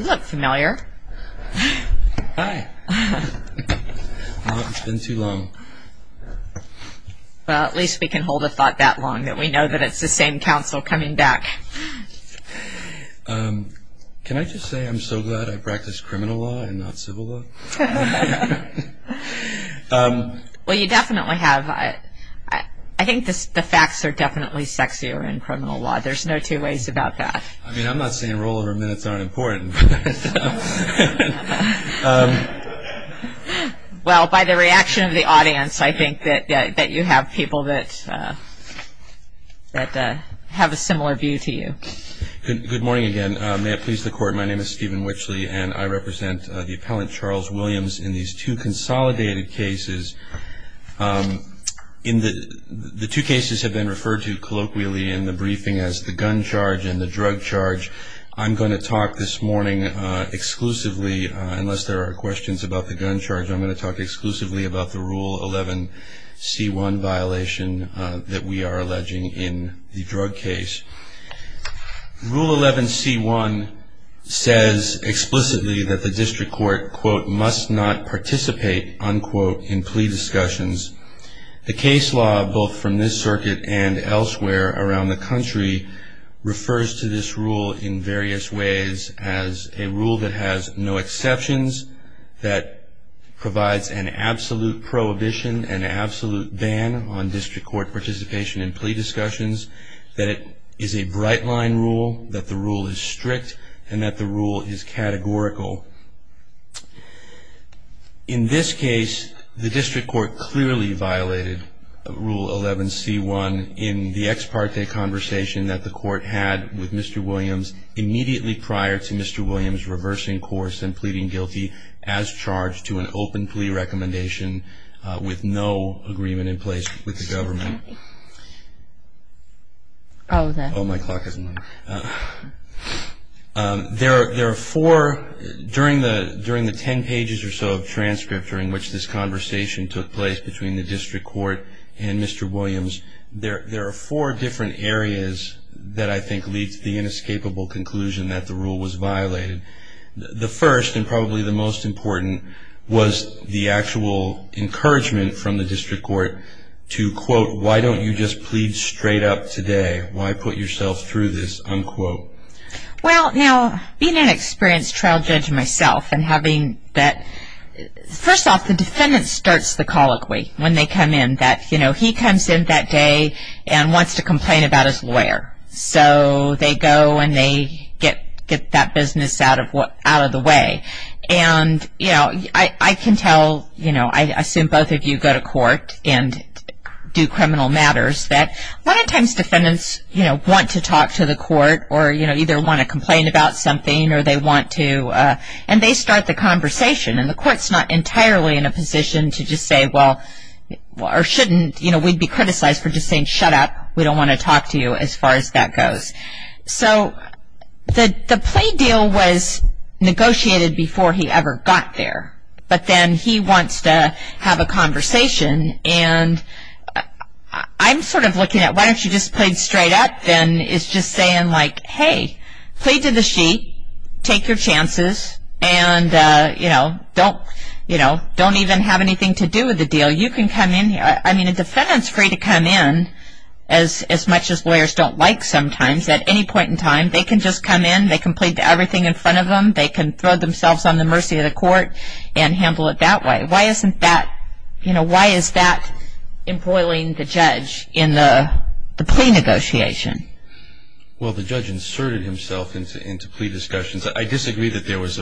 You look familiar. Hi. It's been too long. Well, at least we can hold a thought that long that we know that it's the same counsel coming back. Can I just say I'm so glad I practice criminal law and not civil law? Well, you definitely have. I think the facts are definitely sexier in criminal law. There's no two ways about that. I mean, I'm not saying rollover minutes aren't important. Well, by the reaction of the audience, I think that you have people that have a similar view to you. Good morning again. May it please the Court, my name is Stephen Witchley, and I represent the appellant Charles Williams in these two consolidated cases. The two cases have been referred to colloquially in the briefing as the gun charge and the drug charge. I'm going to talk this morning exclusively, unless there are questions about the gun charge, I'm going to talk exclusively about the Rule 11c1 violation that we are alleging in the drug case. Rule 11c1 says explicitly that the district court, quote, must not participate, unquote, in plea discussions. The case law, both from this circuit and elsewhere around the country, refers to this rule in various ways as a rule that has no exceptions, that provides an absolute prohibition, an absolute ban on district court participation in plea discussions, that it is a bright line rule, that the rule is strict, and that the rule is categorical. In this case, the district court clearly violated Rule 11c1 in the ex parte conversation that the court had with Mr. Williams immediately prior to Mr. Williams reversing course and pleading guilty as charged to an open plea recommendation with no agreement in place with the government. There are four, during the ten pages or so of transcript during which this conversation took place between the district court and Mr. Williams, there are four different areas that I think lead to the inescapable conclusion that the rule was violated. The first, and probably the most important, was the actual encouragement from the district court to, quote, why don't you just plead straight up today? Why put yourself through this, unquote? Well, now, being an experienced trial judge myself and having that, first off, the defendant starts the colloquy when they come in, that he comes in that day and wants to complain about his lawyer. So they go and they get that business out of the way. And, you know, I can tell, you know, I assume both of you go to court and do criminal matters, that a lot of times defendants, you know, want to talk to the court or, you know, either want to complain about something or they want to, and they start the conversation. And the court's not entirely in a position to just say, well, or shouldn't, you know, we'd be criticized for just saying, shut up, we don't want to talk to you as far as that goes. So the plea deal was negotiated before he ever got there. But then he wants to have a conversation. And I'm sort of looking at why don't you just plead straight up than is just saying, like, hey, plead to the sheet, take your chances, and, you know, don't even have anything to do with the deal. I mean, a defendant's free to come in as much as lawyers don't like sometimes. At any point in time, they can just come in, they can plead to everything in front of them, they can throw themselves on the mercy of the court and handle it that way. Why isn't that, you know, why is that embroiling the judge in the plea negotiation? Well, the judge inserted himself into plea discussions. I disagree that there was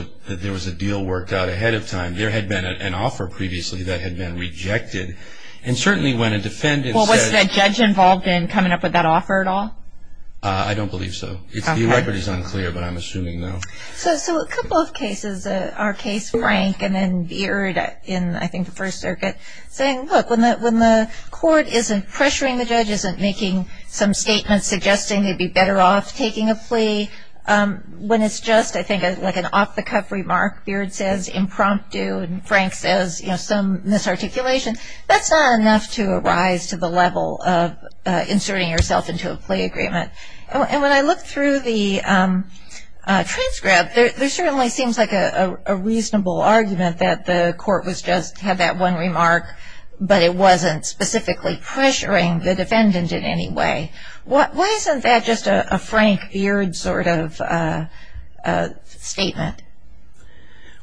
a deal worked out ahead of time. There had been an offer previously that had been rejected. And certainly when a defendant said… Well, was that judge involved in coming up with that offer at all? I don't believe so. The record is unclear, but I'm assuming, no. So a couple of cases, our case Frank and then Beard in, I think, the First Circuit, saying, look, when the court isn't pressuring the judge, isn't making some statements suggesting they'd be better off taking a plea, when it's just, I think, like an off-the-cuff remark, Beard says, impromptu, and Frank says, you know, some misarticulation. That's not enough to arise to the level of inserting yourself into a plea agreement. And when I look through the transcript, there certainly seems like a reasonable argument that the court was just, had that one remark, but it wasn't specifically pressuring the defendant in any way. Why isn't that just a Frank Beard sort of statement?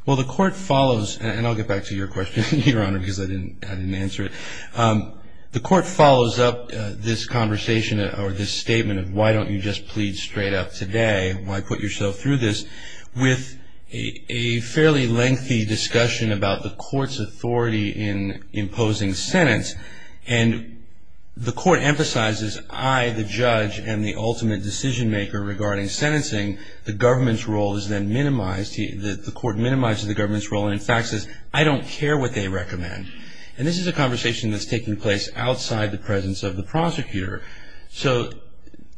Well, the court follows, and I'll get back to your question, Your Honor, because I didn't answer it. The court follows up this conversation or this statement of why don't you just plead straight up today, why put yourself through this, with a fairly lengthy discussion about the court's authority in imposing sentence. And the court emphasizes I, the judge, am the ultimate decision maker regarding sentencing. The government's role is then minimized. The court minimizes the government's role and in fact says, I don't care what they recommend. And this is a conversation that's taking place outside the presence of the prosecutor. So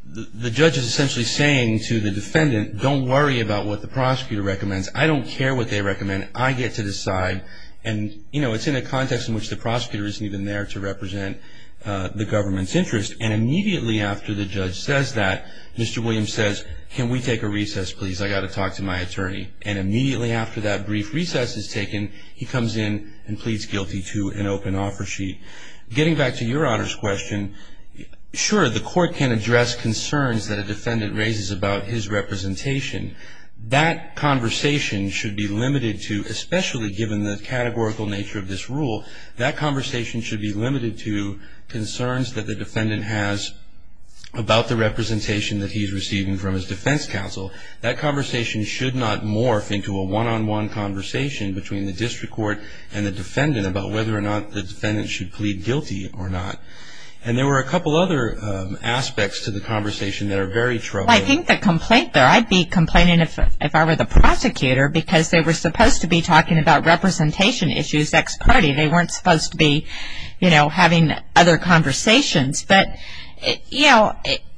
the judge is essentially saying to the defendant, don't worry about what the prosecutor recommends. I don't care what they recommend. I get to decide. And, you know, it's in a context in which the prosecutor isn't even there to represent the government's interest. And immediately after the judge says that, Mr. Williams says, can we take a recess, please? I got to talk to my attorney. And immediately after that brief recess is taken, he comes in and pleads guilty to an open offer sheet. Getting back to Your Honor's question, sure, the court can address concerns that a defendant raises about his representation. That conversation should be limited to, especially given the categorical nature of this rule, that conversation should be limited to concerns that the defendant has about the representation that he's receiving from his defense counsel. That conversation should not morph into a one-on-one conversation between the district court and the defendant about whether or not the defendant should plead guilty or not. And there were a couple other aspects to the conversation that are very troubling. Well, I think the complaint there, I'd be complaining if I were the prosecutor, because they were supposed to be talking about representation issues ex parte. They weren't supposed to be, you know, having other conversations. But, you know,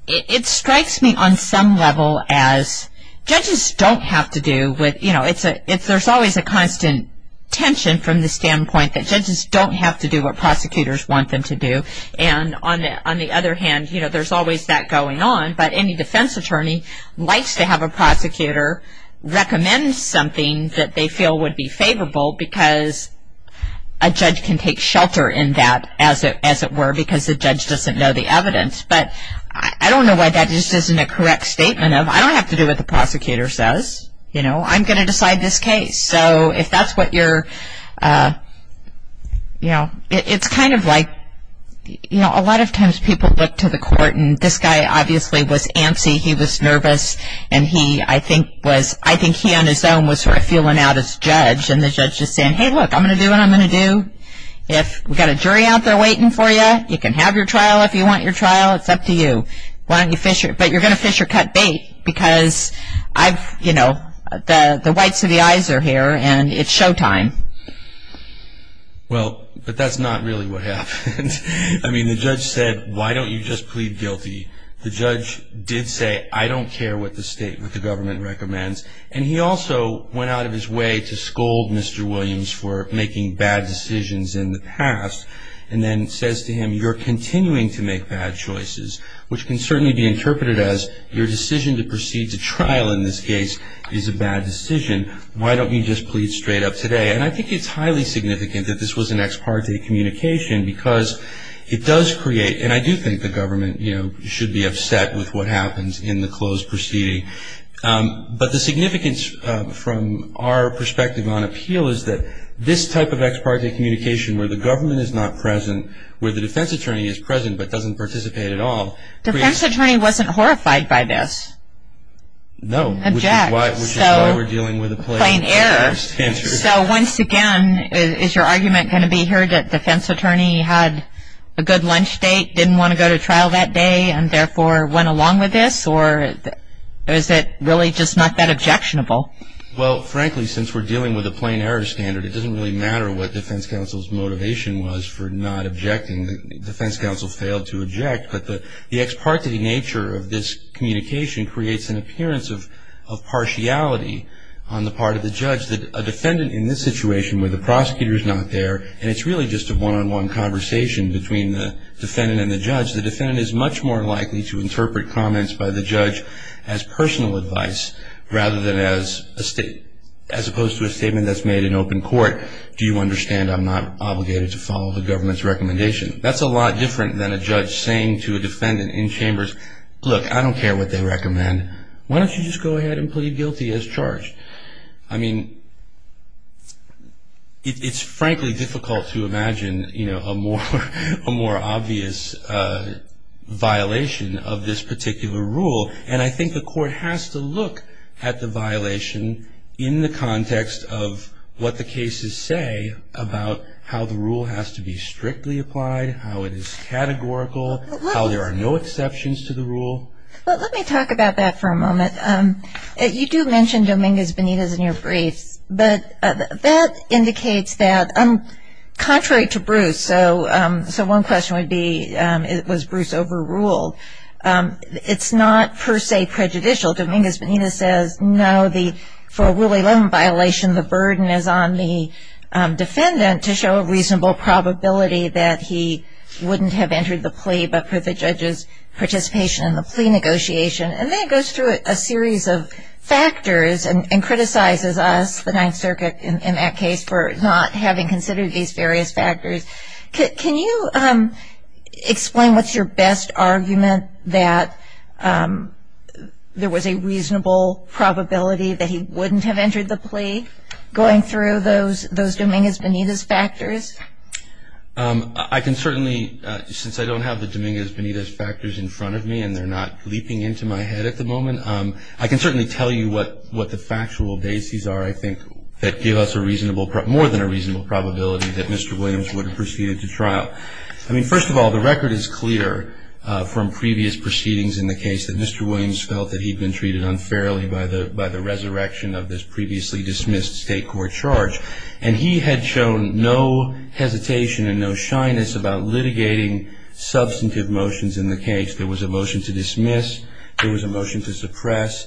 it strikes me on some level as judges don't have to do with, you know, there's always a constant tension from the standpoint that judges don't have to do what prosecutors want them to do. And on the other hand, you know, there's always that going on. But any defense attorney likes to have a prosecutor recommend something that they feel would be favorable because a judge can take shelter in that, as it were, because the judge doesn't know the evidence. But I don't know why that just isn't a correct statement of, I don't have to do what the prosecutor says. You know, I'm going to decide this case. So if that's what you're, you know, it's kind of like, you know, a lot of times people look to the court and this guy obviously was antsy. He was nervous. And he, I think, was, I think he on his own was sort of feeling out his judge. And the judge is saying, hey, look, I'm going to do what I'm going to do. If we've got a jury out there waiting for you, you can have your trial if you want your trial. It's up to you. Why don't you fish, but you're going to fish or cut bait because I've, you know, the whites of the eyes are here and it's showtime. Well, but that's not really what happened. I mean, the judge said, why don't you just plead guilty? The judge did say, I don't care what the state, what the government recommends. And he also went out of his way to scold Mr. Williams for making bad decisions in the past and then says to him, you're continuing to make bad choices, which can certainly be interpreted as your decision to proceed to trial in this case is a bad decision. Why don't you just plead straight up today? And I think it's highly significant that this was an ex parte communication because it does create, and I do think the government, you know, should be upset with what happens in the closed proceeding. But the significance from our perspective on appeal is that this type of ex parte communication where the government is not present, where the defense attorney is present but doesn't participate at all. Defense attorney wasn't horrified by this. No. Object. Which is why we're dealing with a plain error. So once again, is your argument going to be here that defense attorney had a good lunch date, didn't want to go to trial that day, and therefore went along with this? Or is it really just not that objectionable? Well, frankly, since we're dealing with a plain error standard, it doesn't really matter what defense counsel's motivation was for not objecting. The defense counsel failed to object. But the ex parte nature of this communication creates an appearance of partiality on the part of the judge that a defendant in this situation where the prosecutor's not there and it's really just a one-on-one conversation between the defendant and the judge, the defendant is much more likely to interpret comments by the judge as personal advice rather than as opposed to a statement that's made in open court, do you understand I'm not obligated to follow the government's recommendation. That's a lot different than a judge saying to a defendant in chambers, look, I don't care what they recommend, why don't you just go ahead and plead guilty as charged. I mean, it's frankly difficult to imagine a more obvious violation of this particular rule. And I think the court has to look at the violation in the context of what the cases say about how the rule has to be strictly applied, how it is categorical, how there are no exceptions to the rule. Well, let me talk about that for a moment. You do mention Dominguez Benitez in your briefs, but that indicates that contrary to Bruce, so one question would be, was Bruce overruled? It's not per se prejudicial. Dominguez Benitez says, no, for a Rule 11 violation, the burden is on the defendant to show a reasonable probability that he wouldn't have entered the plea, but for the judge's participation in the plea negotiation. And then it goes through a series of factors and criticizes us, the Ninth Circuit in that case, for not having considered these various factors. Can you explain what's your best argument that there was a reasonable probability that he wouldn't have entered the plea going through those Dominguez Benitez factors? I can certainly, since I don't have the Dominguez Benitez factors in front of me and they're not leaping into my head at the moment, I can certainly tell you what the factual bases are, I think, that give us more than a reasonable probability that Mr. Williams would have proceeded to trial. I mean, first of all, the record is clear from previous proceedings in the case that Mr. Williams felt that he had been treated unfairly by the resurrection of this previously dismissed state court charge. And he had shown no hesitation and no shyness about litigating substantive motions in the case. There was a motion to dismiss. There was a motion to suppress.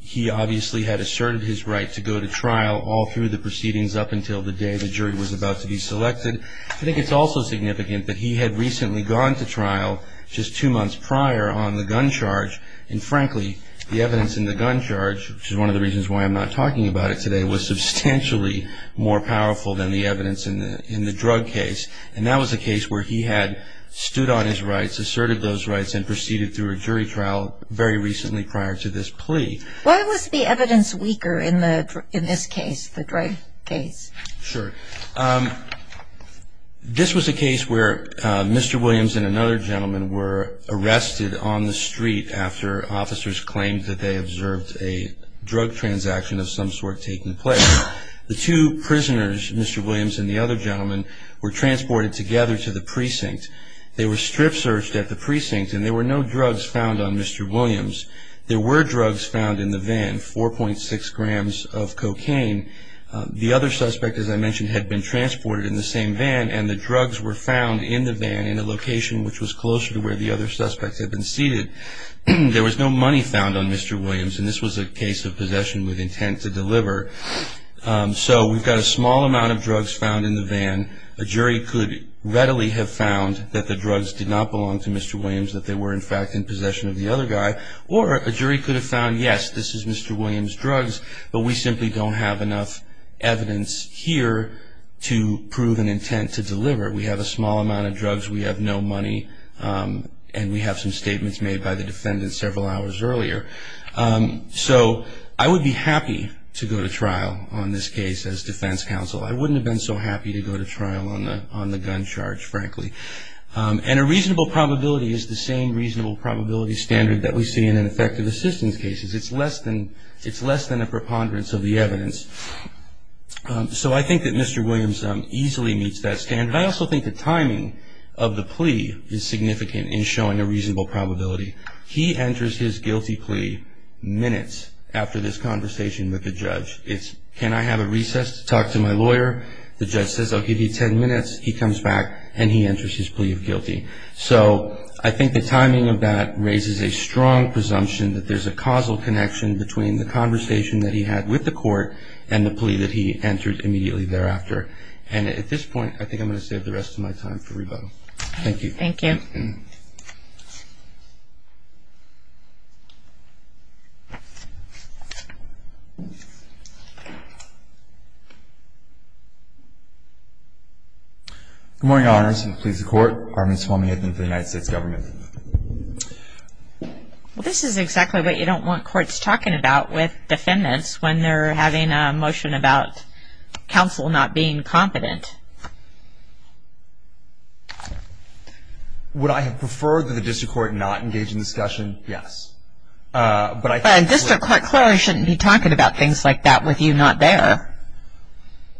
He obviously had asserted his right to go to trial all through the proceedings up until the day the jury was about to be selected. I think it's also significant that he had recently gone to trial just two months prior on the gun charge. And, frankly, the evidence in the gun charge, which is one of the reasons why I'm not talking about it today, was substantially more powerful than the evidence in the drug case. And that was a case where he had stood on his rights, asserted those rights, and proceeded through a jury trial very recently prior to this plea. Why was the evidence weaker in this case, the drug case? Sure. This was a case where Mr. Williams and another gentleman were arrested on the street after officers claimed that they observed a drug transaction of some sort taking place. The two prisoners, Mr. Williams and the other gentleman, were transported together to the precinct. They were strip searched at the precinct, and there were no drugs found on Mr. Williams. There were drugs found in the van, 4.6 grams of cocaine. The other suspect, as I mentioned, had been transported in the same van, and the drugs were found in the van in a location which was closer to where the other suspects had been seated. There was no money found on Mr. Williams, and this was a case of possession with intent to deliver. So we've got a small amount of drugs found in the van. A jury could readily have found that the drugs did not belong to Mr. Williams, that they were, in fact, in possession of the other guy. Or a jury could have found, yes, this is Mr. Williams' drugs, but we simply don't have enough evidence here to prove an intent to deliver. We have a small amount of drugs. We have no money, and we have some statements made by the defendant several hours earlier. So I would be happy to go to trial on this case as defense counsel. I wouldn't have been so happy to go to trial on the gun charge, frankly. And a reasonable probability is the same reasonable probability standard that we see in an effective assistance case. It's less than a preponderance of the evidence. So I think that Mr. Williams easily meets that standard. I also think the timing of the plea is significant in showing a reasonable probability. He enters his guilty plea minutes after this conversation with the judge. It's, can I have a recess to talk to my lawyer? The judge says, I'll give you ten minutes. He comes back, and he enters his plea of guilty. So I think the timing of that raises a strong presumption that there's a causal connection between the conversation that he had with the court and the plea that he entered immediately thereafter. And at this point, I think I'm going to save the rest of my time for rebuttal. Thank you. Thank you. Good morning, Your Honors, and the police and court. Armin Swarmiathan for the United States Government. Well, this is exactly what you don't want courts talking about with defendants when they're having a motion about counsel not being competent. Would I have preferred that the district court not engage in the discussion? Yes. But I think... A district court clearly shouldn't be talking about things like that with you not there.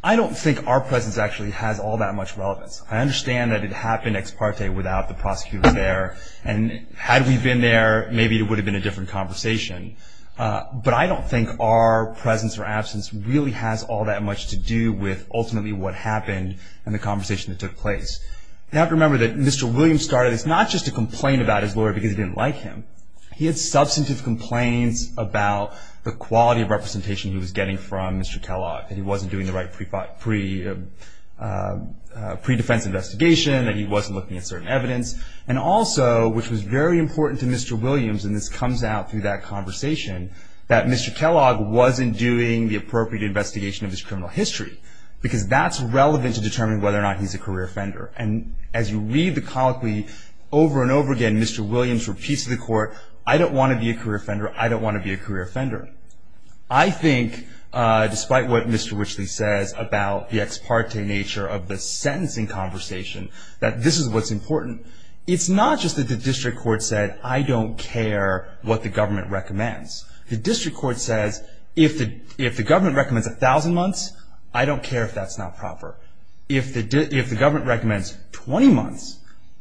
I don't think our presence actually has all that much relevance. I understand that it happened ex parte without the prosecutor there. And had we been there, maybe it would have been a different conversation. But I don't think our presence or absence really has all that much to do with ultimately what happened and the conversation that took place. You have to remember that Mr. Williams started this not just to complain about his lawyer because he didn't like him. He had substantive complaints about the quality of representation he was getting from Mr. Kellogg that he wasn't doing the right pre-defense investigation, that he wasn't looking at certain evidence. And also, which was very important to Mr. Williams, and this comes out through that conversation, that Mr. Kellogg wasn't doing the appropriate investigation of his criminal history because that's relevant to determining whether or not he's a career offender. And as you read the colloquy over and over again, Mr. Williams repeats to the court, I don't want to be a career offender, I don't want to be a career offender. I think, despite what Mr. Richley says about the ex parte nature of the sentencing conversation, that this is what's important. It's not just that the district court said, I don't care what the government recommends. The district court says, if the government recommends 1,000 months, I don't care if that's not proper. If the government recommends 20 months,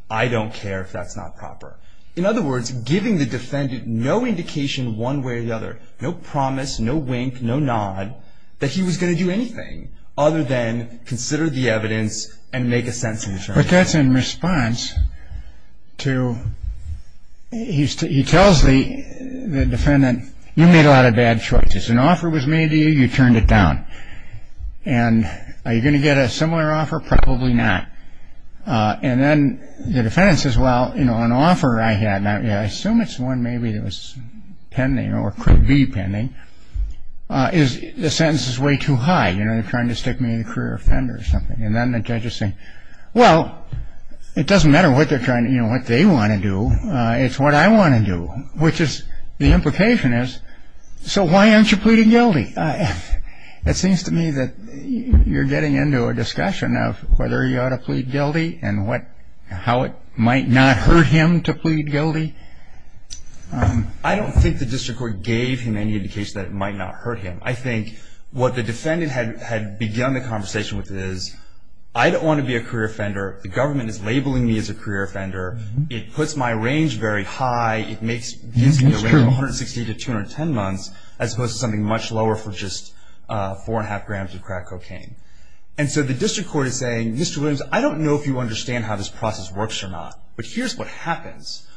I don't care if that's not proper. In other words, giving the defendant no indication one way or the other, no promise, no wink, no nod, that he was going to do anything other than consider the evidence and make a sentence. But that's in response to, he tells the defendant, you made a lot of bad choices. An offer was made to you, you turned it down. And are you going to get a similar offer? Probably not. And then the defendant says, well, an offer I had, and I assume it's one maybe that was pending or could be pending, the sentence is way too high. They're trying to stick me in the career offender or something. And then the judge is saying, well, it doesn't matter what they want to do, it's what I want to do. Which is, the implication is, so why aren't you pleading guilty? It seems to me that you're getting into a discussion of whether you ought to plead guilty and how it might not hurt him to plead guilty. I don't think the district court gave him any indication that it might not hurt him. I think what the defendant had begun the conversation with is, I don't want to be a career offender. The government is labeling me as a career offender. It puts my range very high. It gives me a range of 160 to 210 months, as opposed to something much lower for just four and a half grams of crack cocaine. And so the district court is saying, Mr. Williams, I don't know if you understand how this process works or not, but here's what happens.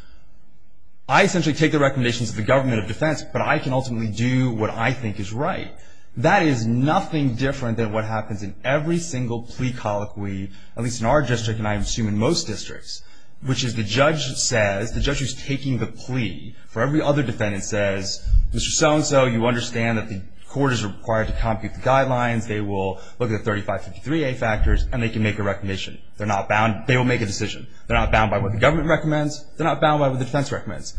I essentially take the recommendations of the government of defense, but I can ultimately do what I think is right. That is nothing different than what happens in every single plea colloquy, at least in our district, and I assume in most districts, which is the judge says, the judge who's taking the plea for every other defendant says, Mr. So-and-so, you understand that the court is required to compute the guidelines. They will look at the 3553A factors, and they can make a recommendation. They're not bound. They will make a decision. They're not bound by what the government recommends. They're not bound by what the defense recommends.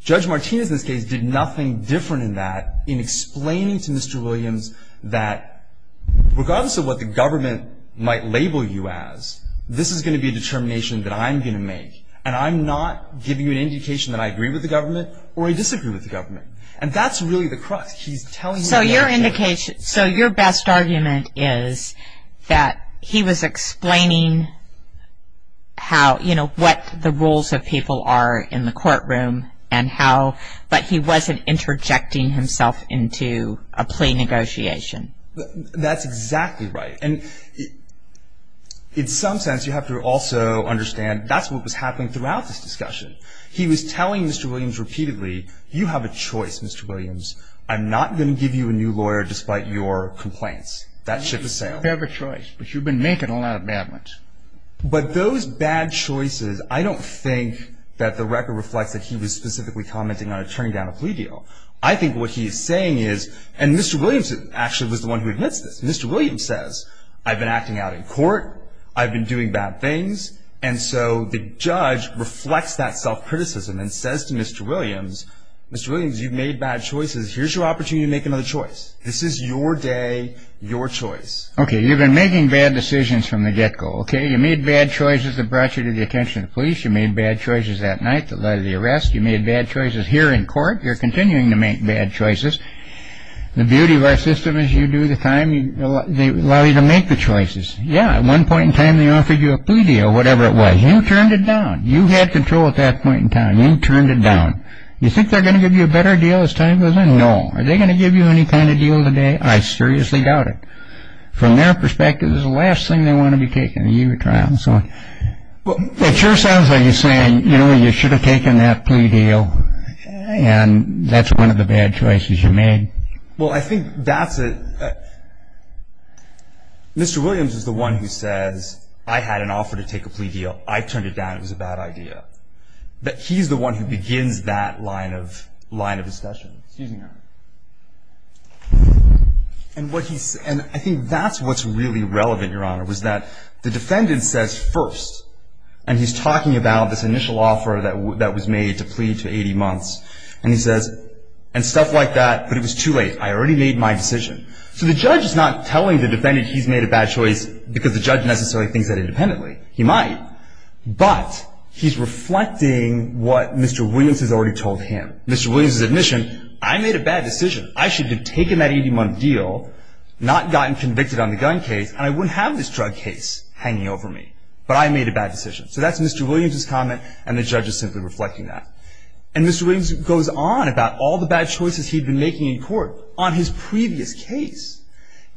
Judge Martinez in this case did nothing different in that in explaining to Mr. Williams that regardless of what the government might label you as, this is going to be a determination that I'm going to make, and I'm not giving you an indication that I agree with the government or I disagree with the government. And that's really the crux. He's telling you that. So your best argument is that he was explaining how, you know, what the rules of people are in the courtroom and how, but he wasn't interjecting himself into a plea negotiation. That's exactly right. And in some sense, you have to also understand that's what was happening throughout this discussion. He was telling Mr. Williams repeatedly, you have a choice, Mr. Williams. I'm not going to give you a new lawyer despite your complaints. That ship has sailed. You have a choice, but you've been making a lot of bad ones. But those bad choices, I don't think that the record reflects that he was specifically commenting on a turn-down of plea deal. I think what he's saying is, and Mr. Williams actually was the one who admits this. Mr. Williams says, I've been acting out in court. I've been doing bad things. And so the judge reflects that self-criticism and says to Mr. Williams, Mr. Williams, you've made bad choices. Here's your opportunity to make another choice. This is your day, your choice. Okay. You've been making bad decisions from the get-go. Okay. You made bad choices that brought you to the attention of the police. You made bad choices that night that led to the arrest. You made bad choices here in court. You're continuing to make bad choices. The beauty of our system is you do the time. They allow you to make the choices. Yeah, at one point in time, they offered you a plea deal, whatever it was. You turned it down. You had control at that point in time. You turned it down. You think they're going to give you a better deal as time goes on? No. Are they going to give you any kind of deal today? I seriously doubt it. From their perspective, this is the last thing they want to be taking, a year trial and so on. It sure sounds like you're saying, you know, you should have taken that plea deal, and that's one of the bad choices you made. Well, I think that's a – Mr. Williams is the one who says, I had an offer to take a plea deal. I turned it down. It was a bad idea. He's the one who begins that line of discussion. Excuse me, Your Honor. And I think that's what's really relevant, Your Honor, was that the defendant says first, and he's talking about this initial offer that was made to plea to 80 months, and he says, and stuff like that, but it was too late. I already made my decision. So the judge is not telling the defendant he's made a bad choice because the judge necessarily thinks that independently. He might, but he's reflecting what Mr. Williams has already told him. Mr. Williams' admission, I made a bad decision. I should have taken that 80-month deal, not gotten convicted on the gun case, and I wouldn't have this drug case hanging over me. But I made a bad decision. So that's Mr. Williams' comment, and the judge is simply reflecting that. And Mr. Williams goes on about all the bad choices he'd been making in court on his previous case,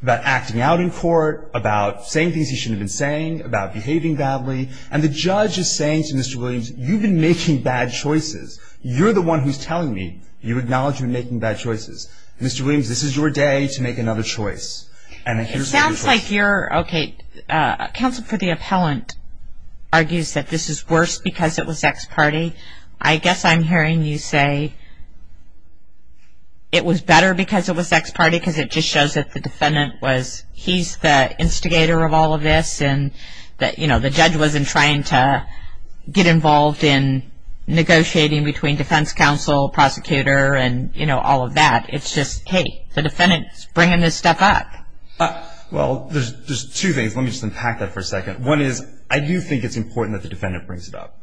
about acting out in court, about saying things he shouldn't have been saying, about behaving badly. And the judge is saying to Mr. Williams, you've been making bad choices. You're the one who's telling me you acknowledge you've been making bad choices. Mr. Williams, this is your day to make another choice. It sounds like you're, okay, counsel for the appellant argues that this is worse because it was ex parte. I guess I'm hearing you say it was better because it was ex parte, because it just shows that the defendant was, he's the instigator of all of this, and that, you know, the judge wasn't trying to get involved in negotiating between defense counsel, prosecutor, and, you know, all of that. It's just, hey, the defendant's bringing this stuff up. Well, there's two things. Let me just unpack that for a second. One is I do think it's important that the defendant brings it up,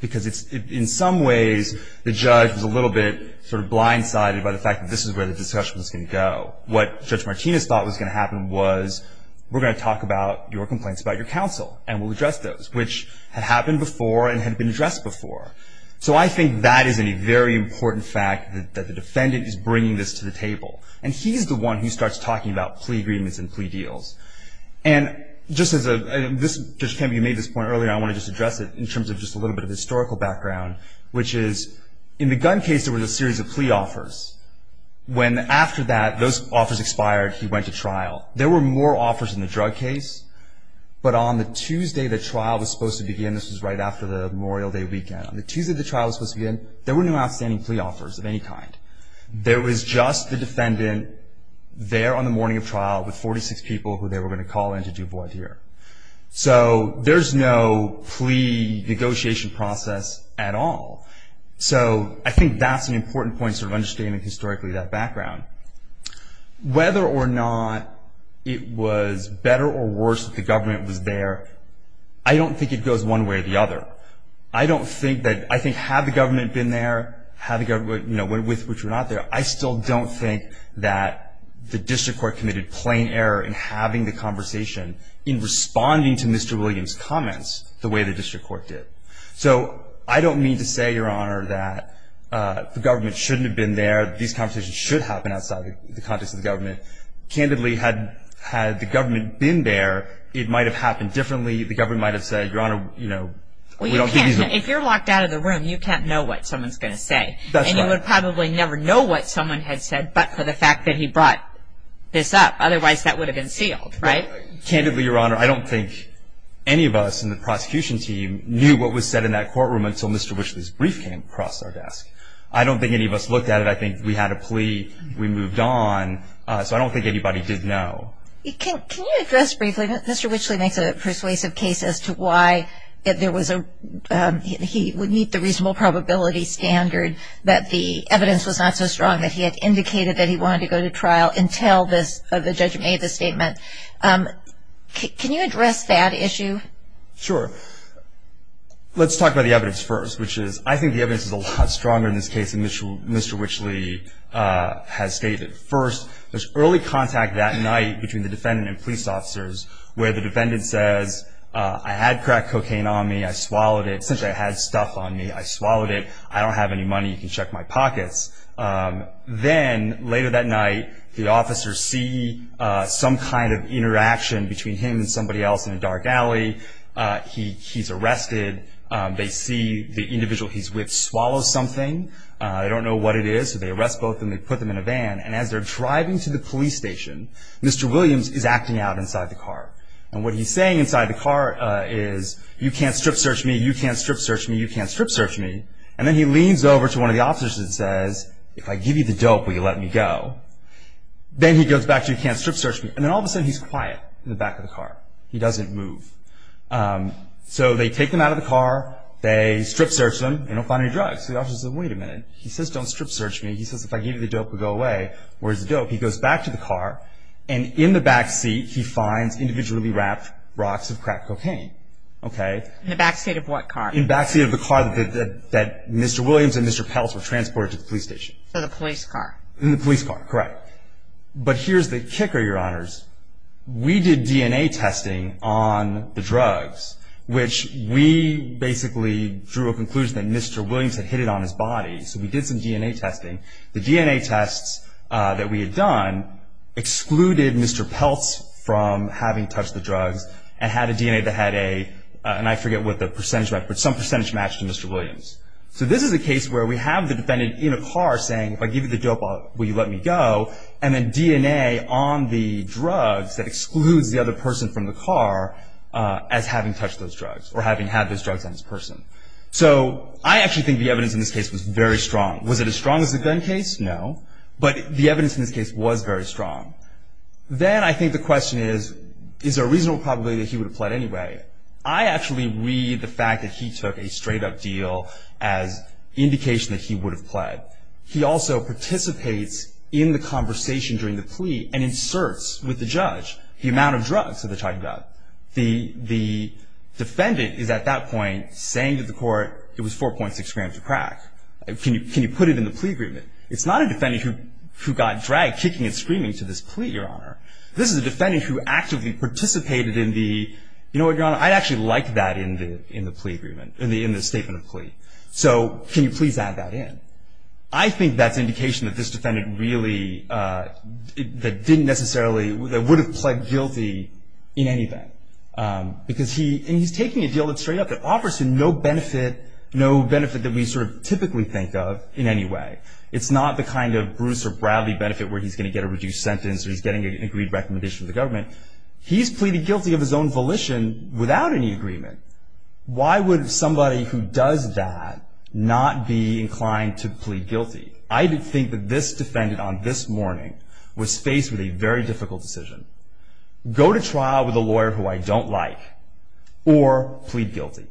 because in some ways the judge was a little bit sort of blindsided by the fact that this is where the discussion was going to go. What Judge Martinez thought was going to happen was we're going to talk about your complaints about your counsel, and we'll address those, which had happened before and had been addressed before. So I think that is a very important fact, that the defendant is bringing this to the table. And he's the one who starts talking about plea agreements and plea deals. And just as Judge Kemp, you made this point earlier, I want to just address it in terms of just a little bit of historical background, which is in the gun case there was a series of plea offers. When after that, those offers expired, he went to trial. There were more offers in the drug case, but on the Tuesday the trial was supposed to begin, and this was right after the Memorial Day weekend. On the Tuesday the trial was supposed to begin, there were no outstanding plea offers of any kind. There was just the defendant there on the morning of trial with 46 people who they were going to call in to do void here. So there's no plea negotiation process at all. So I think that's an important point, sort of understanding historically that background. Whether or not it was better or worse that the government was there, I don't think it goes one way or the other. I don't think that, I think had the government been there, had the government, you know, with which we're not there, I still don't think that the district court committed plain error in having the conversation in responding to Mr. Williams' comments the way the district court did. So I don't mean to say, Your Honor, that the government shouldn't have been there, these conversations should happen outside the context of the government. Candidly, had the government been there, it might have happened differently. The government might have said, Your Honor, you know, we don't think these are. Well, you can't. If you're locked out of the room, you can't know what someone's going to say. That's right. And you would probably never know what someone had said but for the fact that he brought this up. Otherwise, that would have been sealed, right? Candidly, Your Honor, I don't think any of us in the prosecution team knew what was said in that courtroom until Mr. Wishley's brief came across our desk. I don't think any of us looked at it. I think we had a plea, we moved on, so I don't think anybody did know. Can you address briefly, Mr. Wishley makes a persuasive case as to why there was a, he would meet the reasonable probability standard that the evidence was not so strong that he had indicated that he wanted to go to trial until the judge made the statement. Can you address that issue? Sure. Let's talk about the evidence first, which is, I think the evidence is a lot stronger in this case than Mr. Wishley has stated. First, there's early contact that night between the defendant and police officers where the defendant says, I had crack cocaine on me, I swallowed it. Since I had stuff on me, I swallowed it. I don't have any money. You can check my pockets. Then later that night, the officers see some kind of interaction between him and somebody else in a dark alley. He's arrested. They see the individual he's with swallow something. They don't know what it is, so they arrest both of them. They put them in a van, and as they're driving to the police station, Mr. Williams is acting out inside the car. What he's saying inside the car is, you can't strip search me, you can't strip search me, you can't strip search me. Then he leans over to one of the officers and says, if I give you the dope, will you let me go? Then he goes back to, you can't strip search me. Then all of a sudden, he's quiet in the back of the car. He doesn't move. So they take him out of the car. They strip search him. They don't find any drugs. The officer says, wait a minute. He says, don't strip search me. He says, if I gave you the dope, would you go away? Where's the dope? He goes back to the car, and in the backseat, he finds individually wrapped rocks of crack cocaine. In the backseat of what car? In the backseat of the car that Mr. Williams and Mr. Peltz were transported to the police station. So the police car. In the police car, correct. But here's the kicker, Your Honors. We did DNA testing on the drugs, which we basically drew a conclusion that Mr. Williams had hit it on his body. So we did some DNA testing. The DNA tests that we had done excluded Mr. Peltz from having touched the drugs and had a DNA that had a, and I forget what the percentage, but some percentage matched to Mr. Williams. So this is a case where we have the defendant in a car saying, if I give you the dope, will you let me go? And then DNA on the drugs that excludes the other person from the car as having touched those drugs or having had those drugs on this person. So I actually think the evidence in this case was very strong. Was it as strong as the gun case? No. But the evidence in this case was very strong. Then I think the question is, is there a reasonable probability that he would have pled anyway? I actually read the fact that he took a straight-up deal as indication that he would have pled. He also participates in the conversation during the plea and inserts with the judge the amount of drugs that they're talking about. The defendant is at that point saying to the court, it was 4.6 grams of crack. Can you put it in the plea agreement? It's not a defendant who got dragged kicking and screaming to this plea, Your Honor. This is a defendant who actively participated in the, you know what, Your Honor, I'd actually like that in the plea agreement, in the statement of plea. So can you please add that in? I think that's indication that this defendant really, that didn't necessarily, that would have pled guilty in any event. Because he, and he's taking a deal that's straight up, that offers him no benefit, no benefit that we sort of typically think of in any way. It's not the kind of Bruce or Bradley benefit where he's going to get a reduced sentence or he's getting an agreed recommendation from the government. He's pleaded guilty of his own volition without any agreement. Why would somebody who does that not be inclined to plead guilty? I think that this defendant on this morning was faced with a very difficult decision. Go to trial with a lawyer who I don't like or plead guilty.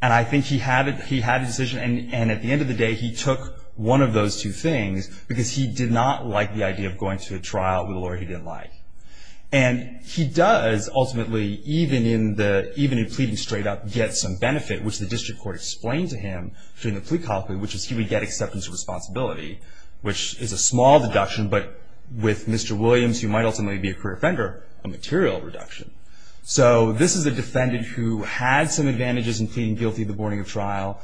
And I think he had a decision and at the end of the day he took one of those two things because he did not like the idea of going to a trial with a lawyer he didn't like. And he does ultimately, even in the, even in pleading straight up, get some benefit, which the district court explained to him during the plea colloquy, which is he would get acceptance of responsibility, which is a small deduction, but with Mr. Williams, who might ultimately be a career offender, a material reduction. So this is a defendant who had some advantages in pleading guilty the morning of trial,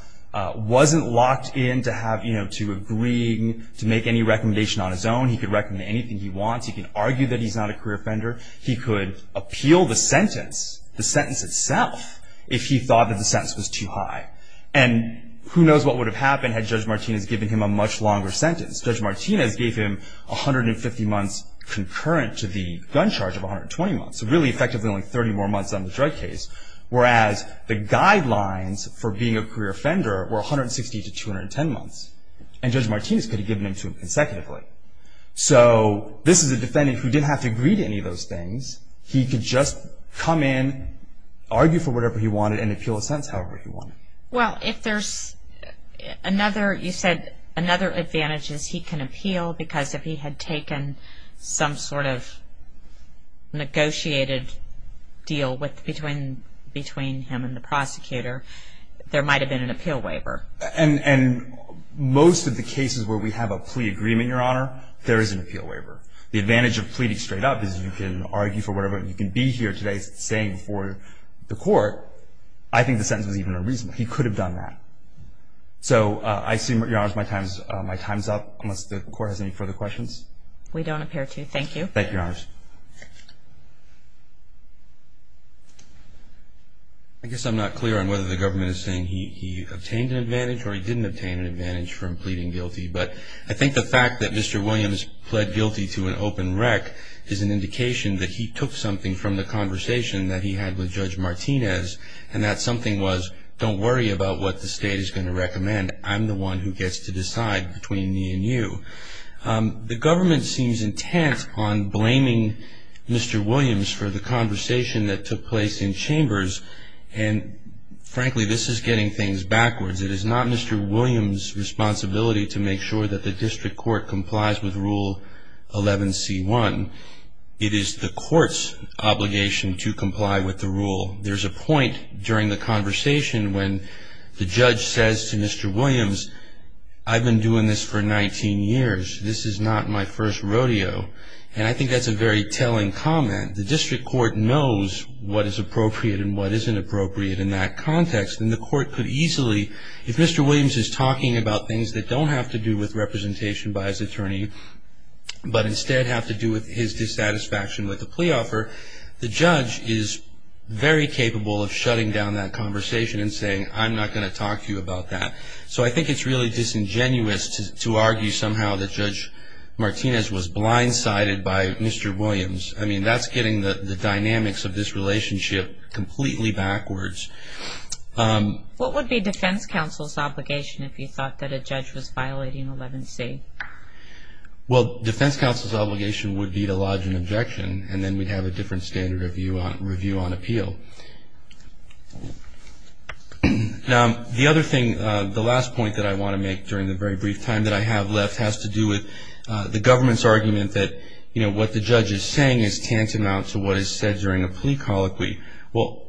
wasn't locked in to have, you know, to agreeing to make any recommendation on his own. He could recommend anything he wants. He can argue that he's not a career offender. He could appeal the sentence, the sentence itself, if he thought that the sentence was too high. And who knows what would have happened had Judge Martinez given him a much longer sentence. Judge Martinez gave him 150 months concurrent to the gun charge of 120 months, so really effectively only 30 more months on the drug case, whereas the guidelines for being a career offender were 160 to 210 months. And Judge Martinez could have given them to him consecutively. So this is a defendant who didn't have to agree to any of those things. He could just come in, argue for whatever he wanted, and appeal a sentence however he wanted. Well, if there's another, you said another advantage is he can appeal because if he had taken some sort of negotiated deal between him and the prosecutor, there might have been an appeal waiver. And most of the cases where we have a plea agreement, Your Honor, there is an appeal waiver. The advantage of pleading straight up is you can argue for whatever. You can be here today saying for the court, I think the sentence was even unreasonable. He could have done that. So I assume, Your Honors, my time's up, unless the Court has any further questions. We don't appear to. Thank you. Thank you, Your Honors. I guess I'm not clear on whether the government is saying he obtained an advantage or he didn't obtain an advantage from pleading guilty. But I think the fact that Mr. Williams pled guilty to an open wreck is an indication that he took something from the conversation that he had with Judge Martinez and that something was, don't worry about what the state is going to recommend. I'm the one who gets to decide between me and you. The government seems intent on blaming Mr. Williams for the conversation that took place in chambers. And frankly, this is getting things backwards. It is not Mr. Williams' responsibility to make sure that the district court complies with Rule 11c1. It is the court's obligation to comply with the rule. There's a point during the conversation when the judge says to Mr. Williams, I've been doing this for 19 years. This is not my first rodeo. And I think that's a very telling comment. The district court knows what is appropriate and what isn't appropriate in that context. And the court could easily, if Mr. Williams is talking about things that don't have to do with representation by his attorney but instead have to do with his dissatisfaction with the plea offer, the judge is very capable of shutting down that conversation and saying, I'm not going to talk to you about that. So I think it's really disingenuous to argue somehow that Judge Martinez was blindsided by Mr. Williams. I mean, that's getting the dynamics of this relationship completely backwards. What would be defense counsel's obligation if you thought that a judge was violating 11c? Well, defense counsel's obligation would be to lodge an objection and then we'd have a different standard of review on appeal. Now, the other thing, the last point that I want to make during the very brief time that I have left, has to do with the government's argument that, you know, what the judge is saying is tantamount to what is said during a plea colloquy. Well,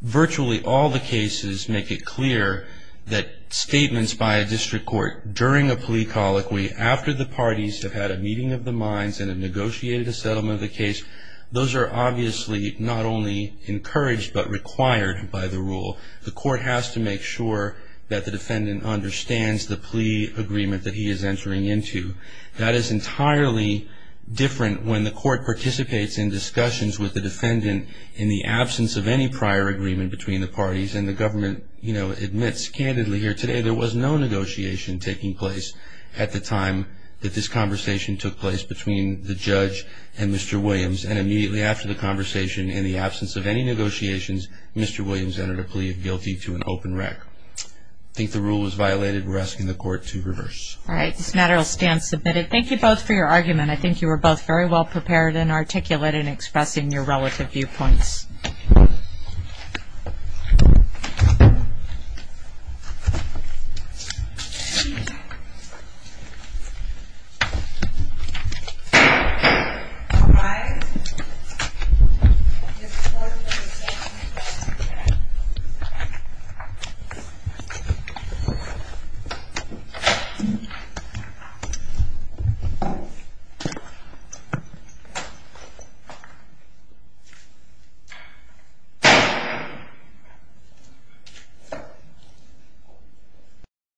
virtually all the cases make it clear that statements by a district court during a plea colloquy, after the parties have had a meeting of the minds and have negotiated a settlement of the case, those are obviously not only encouraged but required by the rule. The court has to make sure that the defendant understands the plea agreement that he is entering into. That is entirely different when the court participates in discussions with the defendant in the absence of any prior agreement between the parties and the government, you know, admits candidly here today there was no negotiation taking place at the time that this conversation took place between the judge and Mr. Williams and immediately after the conversation in the absence of any negotiations, Mr. Williams entered a plea of guilty to an open rec. I think the rule is violated. We're asking the court to reverse. All right. This matter will stand submitted. Thank you both for your argument. I think you were both very well prepared and articulate in expressing your relative viewpoints. All right. This court is adjourned.